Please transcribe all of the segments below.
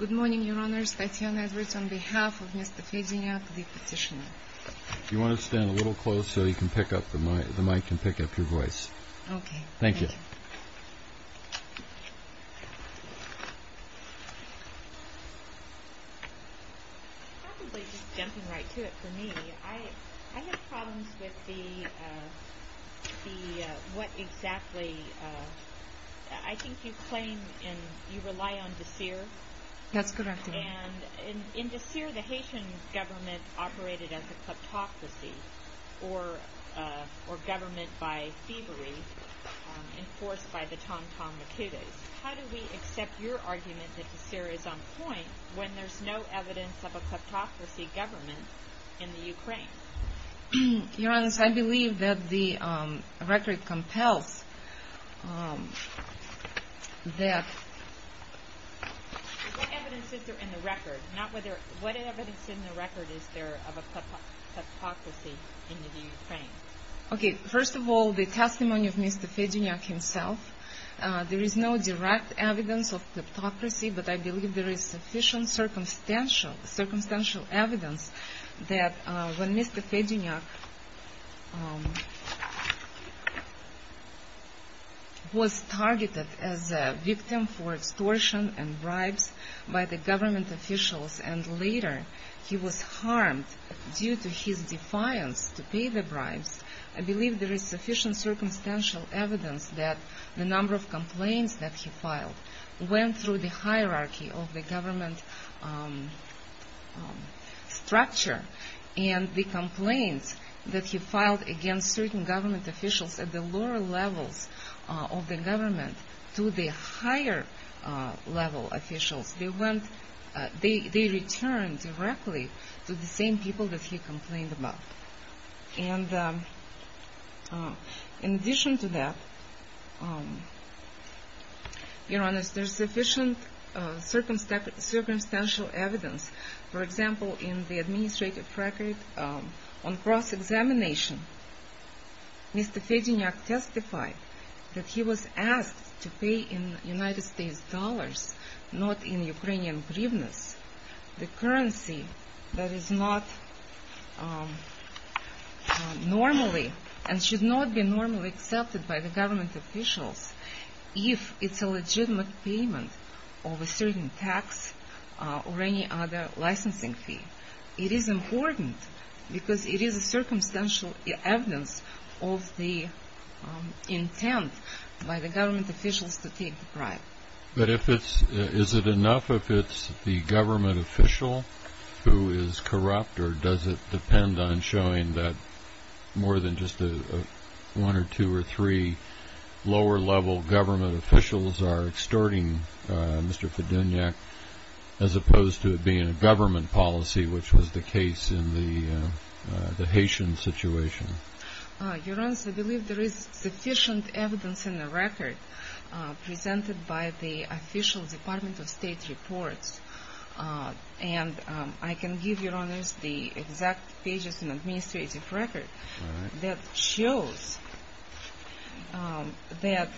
Good morning, Your Honors. Tatyana Edwards on behalf of Mr. Fedunyak, the petitioner. You want to stand a little closer so the mic can pick up your voice. Okay. Thank you. Probably just jumping right to it for me, I have problems with what exactly... I think you claim you rely on DSIR. That's correct. And in DSIR the Haitian government operated as a kleptocracy, or government by thievery enforced by the Tom-Tom Makutas. How do we accept your argument that DSIR is on point when there's no evidence of a kleptocracy government in the Ukraine? Your Honors, I believe that the record compels that... What evidence is there in the record of a kleptocracy in the Ukraine? Okay. First of all, the testimony of Mr. Fedunyak himself. There is no direct evidence of kleptocracy, but I believe there is sufficient circumstantial evidence that when Mr. Fedunyak was targeted as a victim for extortion and bribes by the government officials and later he was harmed due to his defiance to pay the bribes, I believe there is sufficient circumstantial evidence that the number of complaints that he filed went through the hierarchy of the government structure and the complaints that he filed against certain government officials at the lower levels of the government to the higher level officials, they returned directly to the same people that he complained about. And in addition to that, Your Honors, there is sufficient circumstantial evidence, for example, in the administrative record on cross-examination, Mr. Fedunyak testified that he was asked to pay in United States dollars, not in Ukrainian hryvnias, the currency that is not normally, and should not be normally accepted by the government officials if it's a legitimate payment of a certain tax or any other licensing fee. It is important because it is a circumstantial evidence of the intent by the government officials to take the bribe. But is it enough if it's the government official who is corrupt or does it depend on showing that more than just one or two or three lower level government officials are extorting Mr. Fedunyak as opposed to it being a government policy, which was the case in the Haitian situation? Your Honors, I believe there is sufficient evidence in the record presented by the official Department of State reports. And I can give Your Honors the exact pages in the administrative record that shows that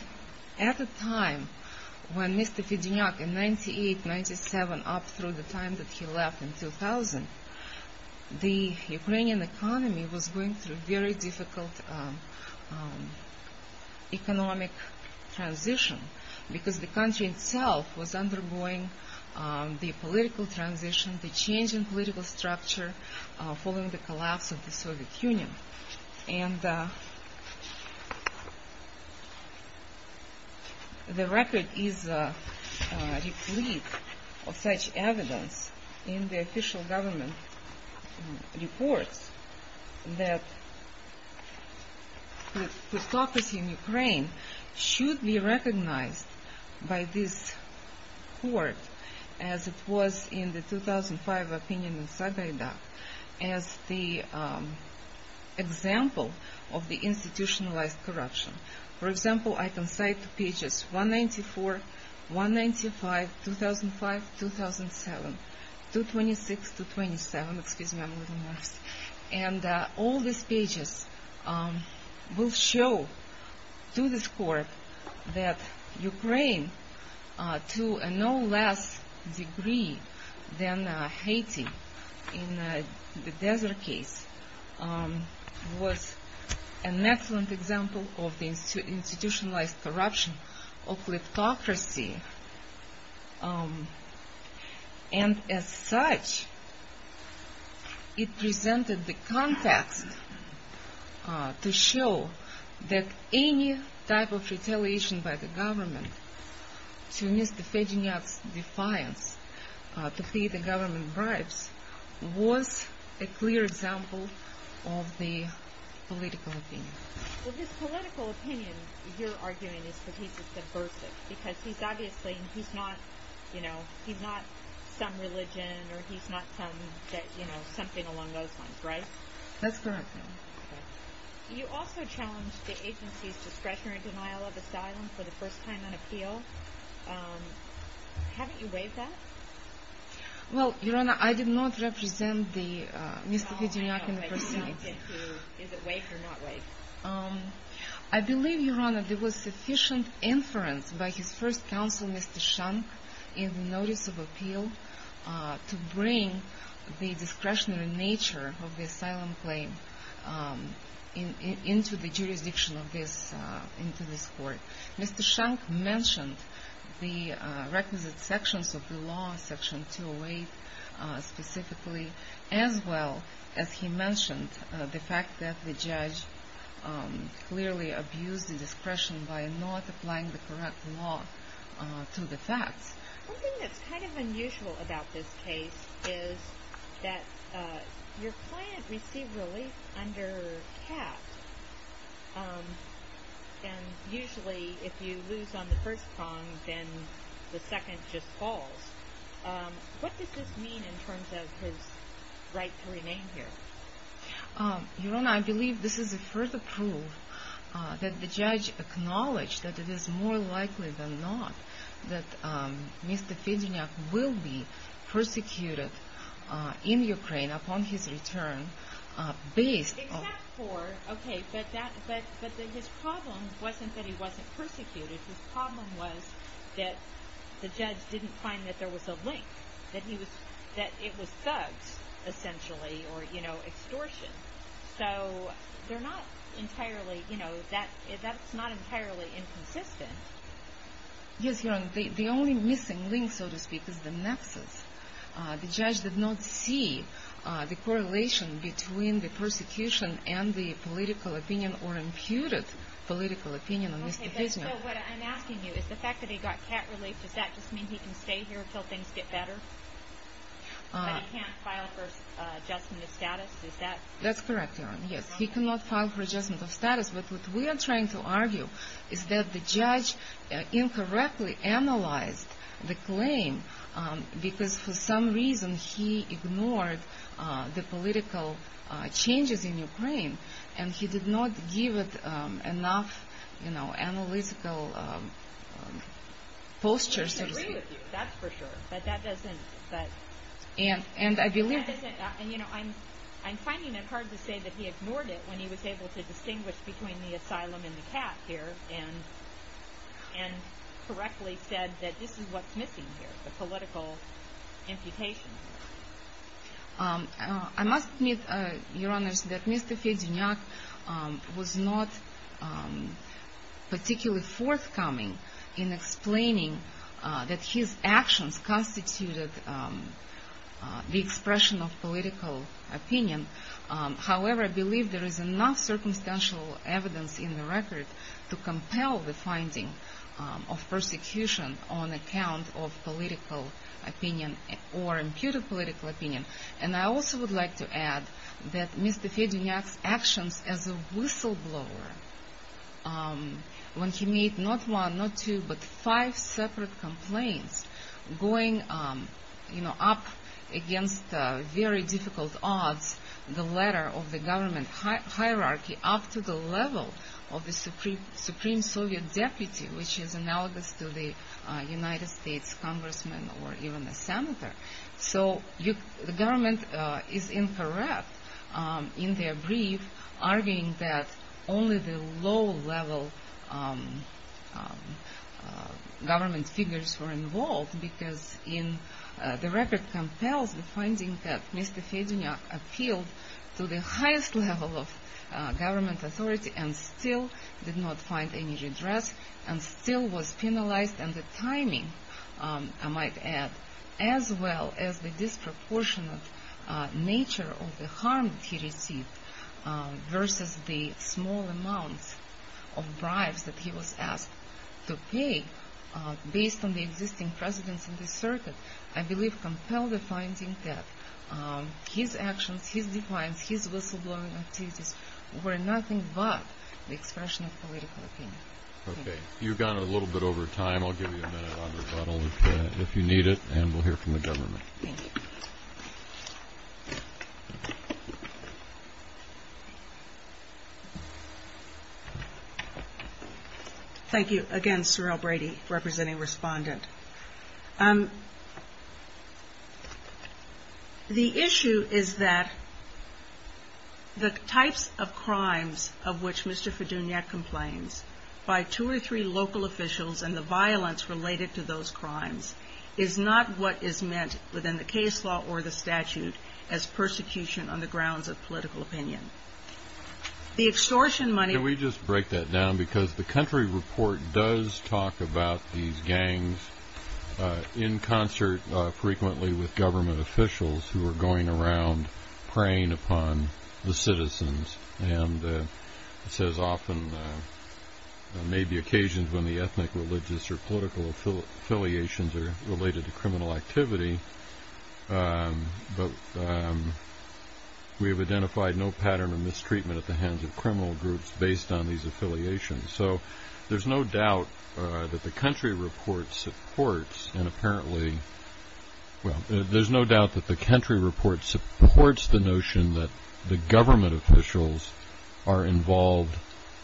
at the time when Mr. Fedunyak in 1998-1997 up through the time that he left in 2000, the Ukrainian economy was going through a very difficult economic transition because the country itself was undergoing the political transition, the change in political structure following the collapse of the Soviet Union. And the record is replete of such evidence in the official government reports that plutocracy in Ukraine should be recognized by this court as it was in the 2005 opinion of Zagayda as the example of the institutionalized corruption. For example, I can cite pages 194, 195, 2005, 2007, 226, 227, and all these pages will show to this court that Ukraine to no less degree than Haiti in the desert case was an excellent example of the institutionalized corruption of plutocracy. And as such, it presented the context to show that any type of retaliation by the government to Mr. Fedunyak's defiance to pay the government bribes was a clear example of the political opinion. Well, this political opinion you're arguing is that he's a subversive because he's obviously not some religion or he's not something along those lines, right? That's correct, ma'am. You also challenged the agency's discretionary denial of asylum for the first time on appeal. Haven't you waived that? Well, Your Honor, I did not represent Mr. Fedunyak in the proceedings. Is it waived or not waived? I believe, Your Honor, there was sufficient inference by his first counsel, Mr. Shank, in the notice of appeal to bring the discretionary nature of the asylum claim into the jurisdiction of this court. Mr. Shank mentioned the requisite sections of the law, Section 208 specifically, as well as he mentioned the fact that the judge clearly abused the discretion by not applying the correct law to the facts. One thing that's kind of unusual about this case is that your client received relief under CAT, and usually if you lose on the first prong, then the second just falls. What does this mean in terms of his right to remain here? Your Honor, I believe this is a further proof that the judge acknowledged that it is more likely than not that Mr. Fedunyak will be persecuted in Ukraine upon his return based on... Except for, okay, but his problem wasn't that he wasn't persecuted. His problem was that the judge didn't find that there was a link, that it was thugs, essentially, or, you know, extortion. So they're not entirely, you know, that's not entirely inconsistent. Yes, Your Honor, the only missing link, so to speak, is the nexus. The judge did not see the correlation between the persecution and the political opinion or imputed political opinion on Mr. Fedunyak. So what I'm asking you is the fact that he got CAT relief, does that just mean he can stay here until things get better? That he can't file for adjustment of status, is that... That's correct, Your Honor, yes, he cannot file for adjustment of status. But what we are trying to argue is that the judge incorrectly analyzed the claim because for some reason he ignored the political changes in Ukraine, and he did not give it enough, you know, analytical posture, so to speak. He can agree with you, that's for sure, but that doesn't... And I believe... And, you know, I'm finding it hard to say that he ignored it when he was able to distinguish between the asylum and the CAT here, and correctly said that this is what's missing here, the political imputation. I must admit, Your Honor, that Mr. Fedunyak was not particularly forthcoming in explaining that his actions constituted the expression of political opinion. However, I believe there is enough circumstantial evidence in the record to compel the finding of persecution on account of political opinion or imputed political opinion. And I also would like to add that Mr. Fedunyak's actions as a whistleblower, when he made not one, not two, but five separate complaints, going, you know, up against very difficult odds, the letter of the government hierarchy up to the level of the Supreme Soviet Deputy, which is analogous to the United States Congressman or even the Senator. So the government is incorrect in their brief, arguing that only the low-level government figures were involved, but because the record compels the finding that Mr. Fedunyak appealed to the highest level of government authority and still did not find any redress and still was penalized, and the timing, I might add, as well as the disproportionate nature of the harm he received versus the small amounts of bribes that he was asked to pay based on the existing precedents in the circuit, I believe compel the finding that his actions, his defiance, his whistleblowing activities were nothing but the expression of political opinion. Okay. You've gone a little bit over time. I'll give you a minute on rebuttal if you need it, and we'll hear from the government. Thank you. Thank you. Again, Surrell Brady, representing respondent. The issue is that the types of crimes of which Mr. Fedunyak complains by two or three local officials and the violence related to those crimes is not what is meant within the case law or the statute as persecution on the grounds of political opinion. The extortion money Can we just break that down because the country report does talk about these gangs in concert frequently with government officials who are going around preying upon the citizens, and it says often there may be occasions when the ethnic, religious, or political affiliations are related to criminal activity, but we have identified no pattern of mistreatment at the hands of criminal groups based on these affiliations. So there's no doubt that the country report supports and apparently There's no doubt that the country report supports the notion that the government officials are involved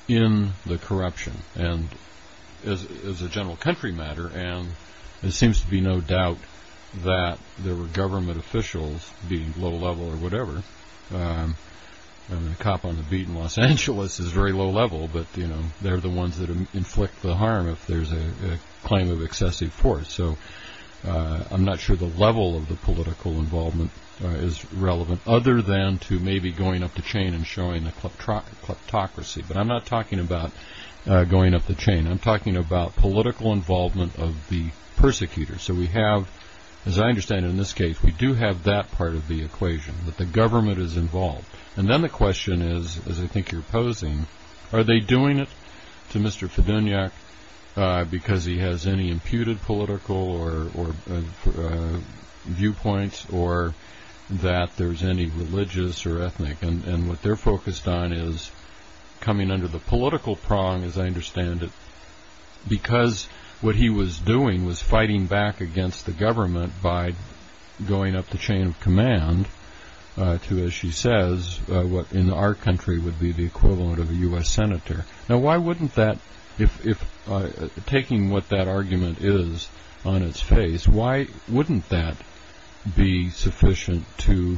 in the corruption as a general country matter, and there seems to be no doubt that there were government officials being low level or whatever. The cop on the beat in Los Angeles is very low level, but they're the ones that inflict the harm if there's a claim of excessive force. So I'm not sure the level of the political involvement is relevant other than to maybe going up the chain and showing a kleptocracy. But I'm not talking about going up the chain. I'm talking about political involvement of the persecutors. So we have, as I understand it in this case, we do have that part of the equation, that the government is involved. And then the question is, as I think you're posing, are they doing it to Mr. Fidunyak because he has any imputed political viewpoints or that there's any religious or ethnic? And what they're focused on is coming under the political prong, as I understand it, because what he was doing was fighting back against the government by going up the chain of command to, as she says, what in our country would be the equivalent of a U.S. senator. Now why wouldn't that, taking what that argument is on its face, why wouldn't that be sufficient to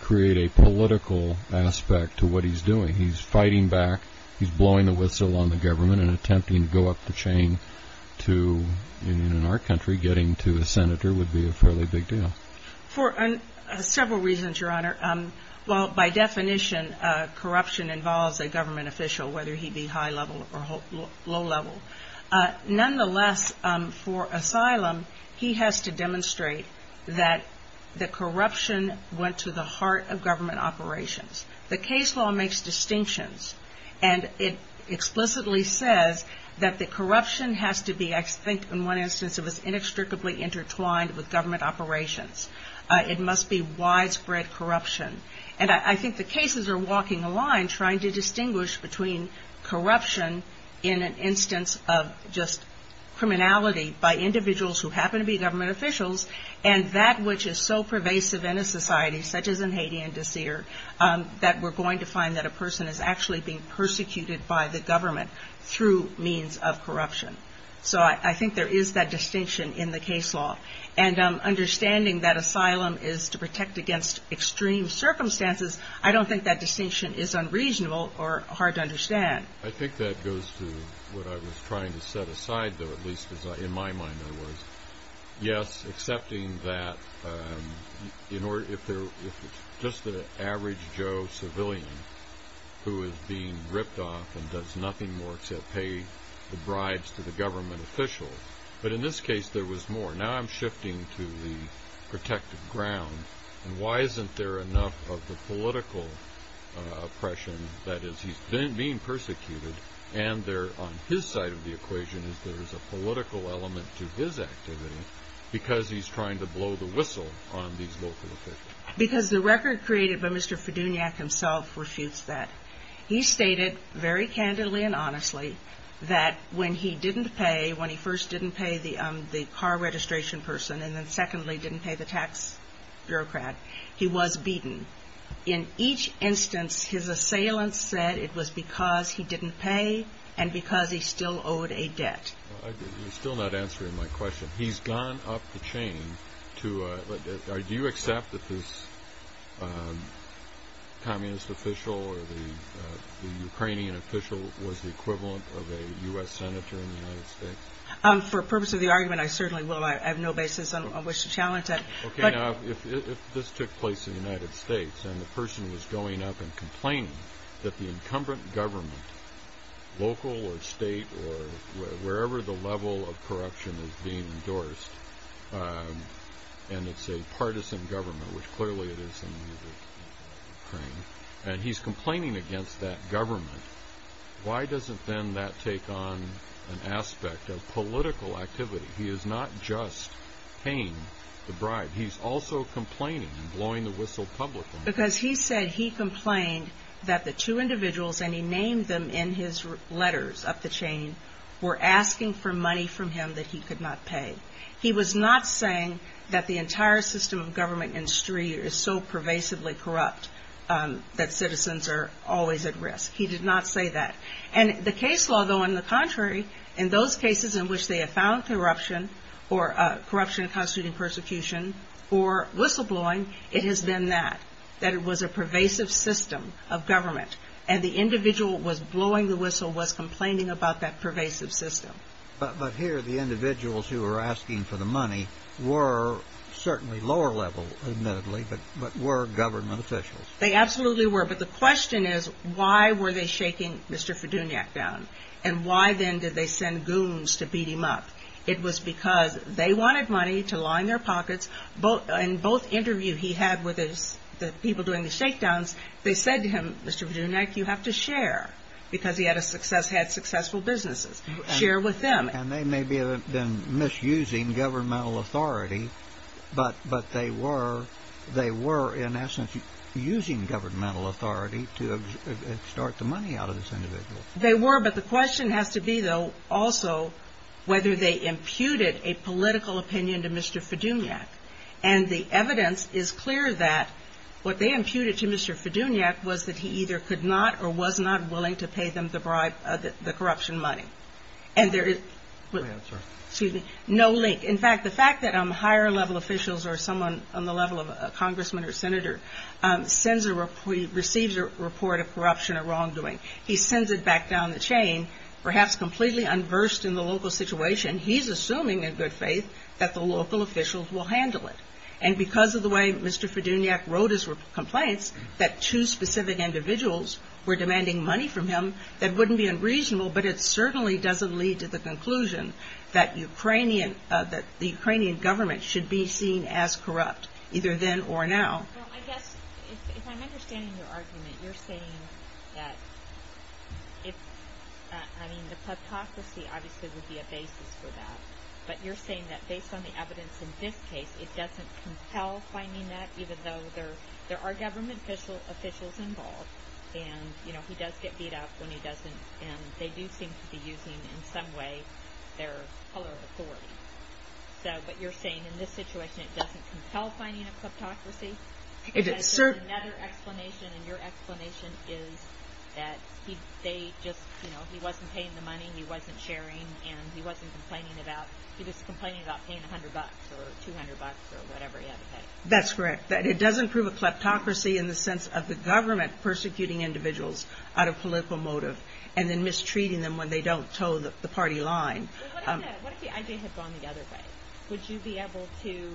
create a political aspect to what he's doing? He's fighting back, he's blowing the whistle on the government and attempting to go up the chain to, in our country, getting to a senator would be a fairly big deal. For several reasons, Your Honor. Well, by definition, corruption involves a government official, whether he be high level or low level. Nonetheless, for asylum, he has to demonstrate that the corruption went to the heart of government operations. The case law makes distinctions, and it explicitly says that the corruption has to be, I think in one instance, it was inextricably intertwined with government operations. It must be widespread corruption. And I think the cases are walking the line trying to distinguish between corruption in an instance of just criminality by individuals who happen to be government officials and that which is so pervasive in a society such as in Haiti and Daseer that we're going to find that a person is actually being persecuted by the government through means of corruption. So I think there is that distinction in the case law. And understanding that asylum is to protect against extreme circumstances, I don't think that distinction is unreasonable or hard to understand. I think that goes to what I was trying to set aside, though, at least in my mind there was. Yes, accepting that just the average Joe civilian who is being ripped off and does nothing more except pay the bribes to the government officials. But in this case, there was more. Now I'm shifting to the protected ground. And why isn't there enough of the political oppression that is he's being persecuted and there on his side of the equation is there is a political element to his activity because he's trying to blow the whistle on these local officials? Because the record created by Mr. Fiduniak himself refutes that. He stated very candidly and honestly that when he didn't pay, the car registration person, and then secondly didn't pay the tax bureaucrat, he was beaten. In each instance his assailants said it was because he didn't pay and because he still owed a debt. You're still not answering my question. He's gone up the chain. Do you accept that this communist official or the Ukrainian official was the equivalent of a U.S. senator in the United States? For purpose of the argument, I certainly will. I have no basis on which to challenge it. Okay. Now, if this took place in the United States and the person was going up and complaining that the incumbent government, local or state or wherever the level of corruption is being endorsed, and it's a partisan government, which clearly it is in Ukraine, and he's complaining against that government, why doesn't then that take on an aspect of political activity? He is not just paying the bribe. He's also complaining and blowing the whistle publicly. Because he said he complained that the two individuals, and he named them in his letters up the chain, were asking for money from him that he could not pay. He was not saying that the entire system of government industry is so pervasively corrupt that citizens are always at risk. He did not say that. And the case law, though, on the contrary, in those cases in which they have found corruption or corruption constituting persecution or whistleblowing, it has been that, that it was a pervasive system of government. And the individual who was blowing the whistle was complaining about that pervasive system. But here the individuals who were asking for the money were certainly lower level, admittedly, but were government officials. They absolutely were. But the question is, why were they shaking Mr. Fiduniak down? And why then did they send goons to beat him up? It was because they wanted money to line their pockets. In both interviews he had with the people doing the shakedowns, they said to him, Mr. Fiduniak, you have to share. Because he had successful businesses. Share with them. And they may have been misusing governmental authority, but they were in essence using governmental authority to extort the money out of this individual. They were, but the question has to be, though, also whether they imputed a political opinion to Mr. Fiduniak. And the evidence is clear that what they imputed to Mr. Fiduniak was that he either could not or was not willing to pay them the bribe, the corruption money. And there is no link. In fact, the fact that higher-level officials or someone on the level of a congressman or senator sends a report, receives a report of corruption or wrongdoing, he sends it back down the chain, perhaps completely unversed in the local situation, he's assuming in good faith that the local officials will handle it. And because of the way Mr. Fiduniak wrote his complaints, that two specific individuals were demanding money from him, that wouldn't be unreasonable, but it certainly doesn't lead to the conclusion that the Ukrainian government should be seen as corrupt, either then or now. Well, I guess if I'm understanding your argument, you're saying that, I mean, the kleptocracy obviously would be a basis for that. But you're saying that based on the evidence in this case, it doesn't compel finding that, even though there are government officials involved, and, you know, he does get beat up when he doesn't, and they do seem to be using in some way their color of authority. So, but you're saying in this situation it doesn't compel finding a kleptocracy? Because there's another explanation, and your explanation is that they just, you know, he wasn't paying the money, he wasn't sharing, and he wasn't complaining about, he was complaining about paying $100 or $200 or whatever he had to pay. That's correct. That it doesn't prove a kleptocracy in the sense of the government persecuting individuals out of political motive and then mistreating them when they don't toe the party line. What if the I.J. had gone the other way? Would you be able to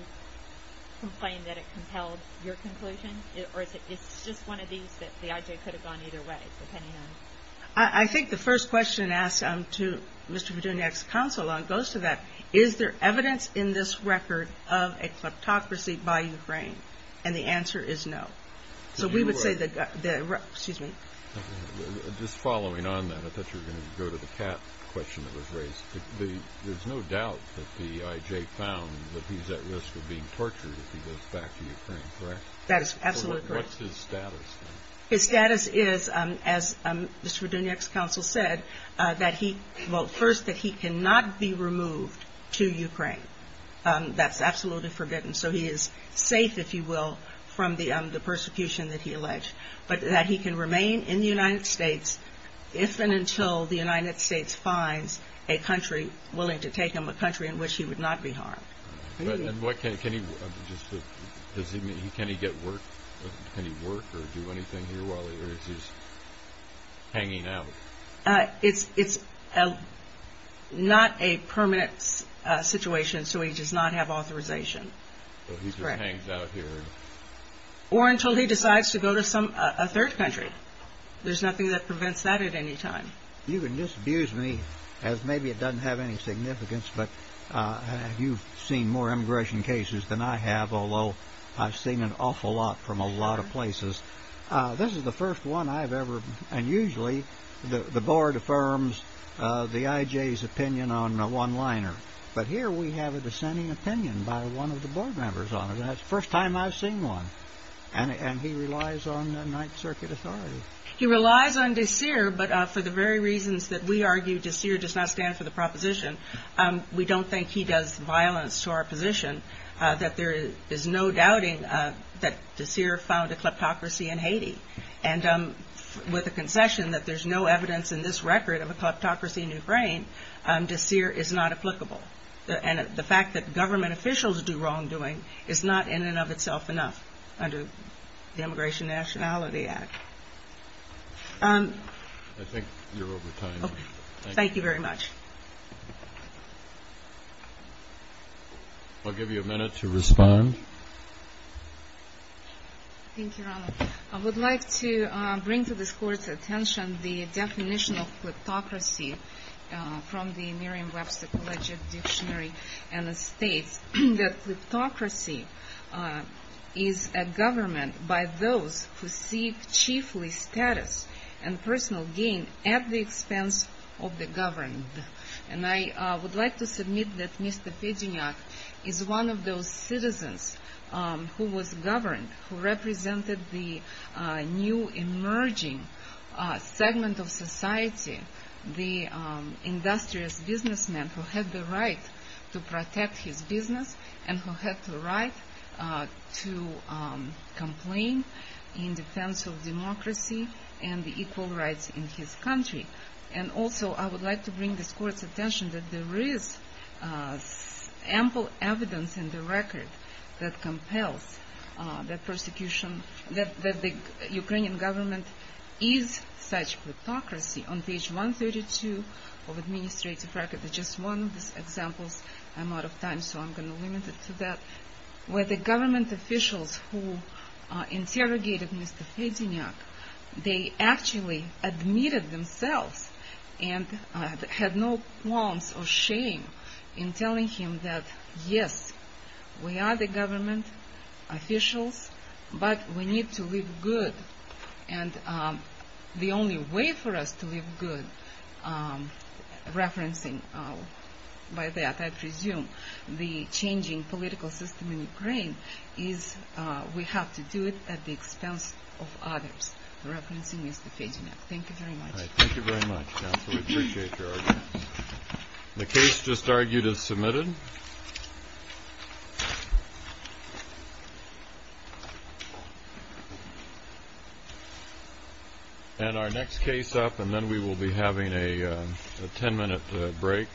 complain that it compelled your conclusion? Or is it just one of these that the I.J. could have gone either way, depending on? I think the first question asked to Mr. Petuniak's counsel goes to that. Is there evidence in this record of a kleptocracy by Ukraine? And the answer is no. So we would say that the, excuse me. Just following on that, I thought you were going to go to the cat question that was raised. There's no doubt that the I.J. found that he's at risk of being tortured if he goes back to Ukraine, correct? That is absolutely correct. What's his status then? His status is, as Mr. Petuniak's counsel said, that he, well, first that he cannot be removed to Ukraine. That's absolutely forbidden. So he is safe, if you will, from the persecution that he alleged. But that he can remain in the United States if and until the United States finds a country willing to take him, a country in which he would not be harmed. Can he get work? Can he work or do anything here while he's hanging out? It's not a permanent situation, so he does not have authorization. So he just hangs out here. Or until he decides to go to a third country. There's nothing that prevents that at any time. You can disabuse me as maybe it doesn't have any significance, but you've seen more immigration cases than I have, although I've seen an awful lot from a lot of places. This is the first one I've ever, and usually the board affirms the I.J.'s opinion on one-liner. But here we have a dissenting opinion by one of the board members on it. That's the first time I've seen one. And he relies on Ninth Circuit authority. He relies on de Seer, but for the very reasons that we argue de Seer does not stand for the proposition, we don't think he does violence to our position, that there is no doubting that de Seer found a kleptocracy in Haiti. And with a concession that there's no evidence in this record of a kleptocracy in Ukraine, de Seer is not applicable. And the fact that government officials do wrongdoing is not in and of itself enough under the Immigration Nationality Act. I think you're over time. Thank you very much. I'll give you a minute to respond. Thank you, Rana. I would like to bring to this Court's attention the definition of kleptocracy from the Merriam-Webster Collegiate Dictionary, and it states that kleptocracy is a government by those who seek chiefly status and personal gain at the expense of the governed. And I would like to submit that Mr. Pedeniak is one of those citizens who was governed, who represented the new emerging segment of society, the industrious businessman who had the right to protect his business and who had the right to complain in defense of democracy and the equal rights in his country. And also I would like to bring this Court's attention that there is ample evidence in the record that compels the persecution, that the Ukrainian government is such kleptocracy. On page 132 of the administrative record, there's just one of these examples. I'm out of time, so I'm going to limit it to that. Where the government officials who interrogated Mr. Pedeniak, they actually admitted themselves and had no qualms or shame in telling him that, yes, we are the government officials, but we need to live good. And the only way for us to live good, referencing by that, I presume, the changing political system in Ukraine, is we have to do it at the expense of others, referencing Mr. Pedeniak. Thank you very much. Thank you very much, counsel. We appreciate your arguments. The case just argued is submitted. And our next case up, and then we will be having a ten-minute break.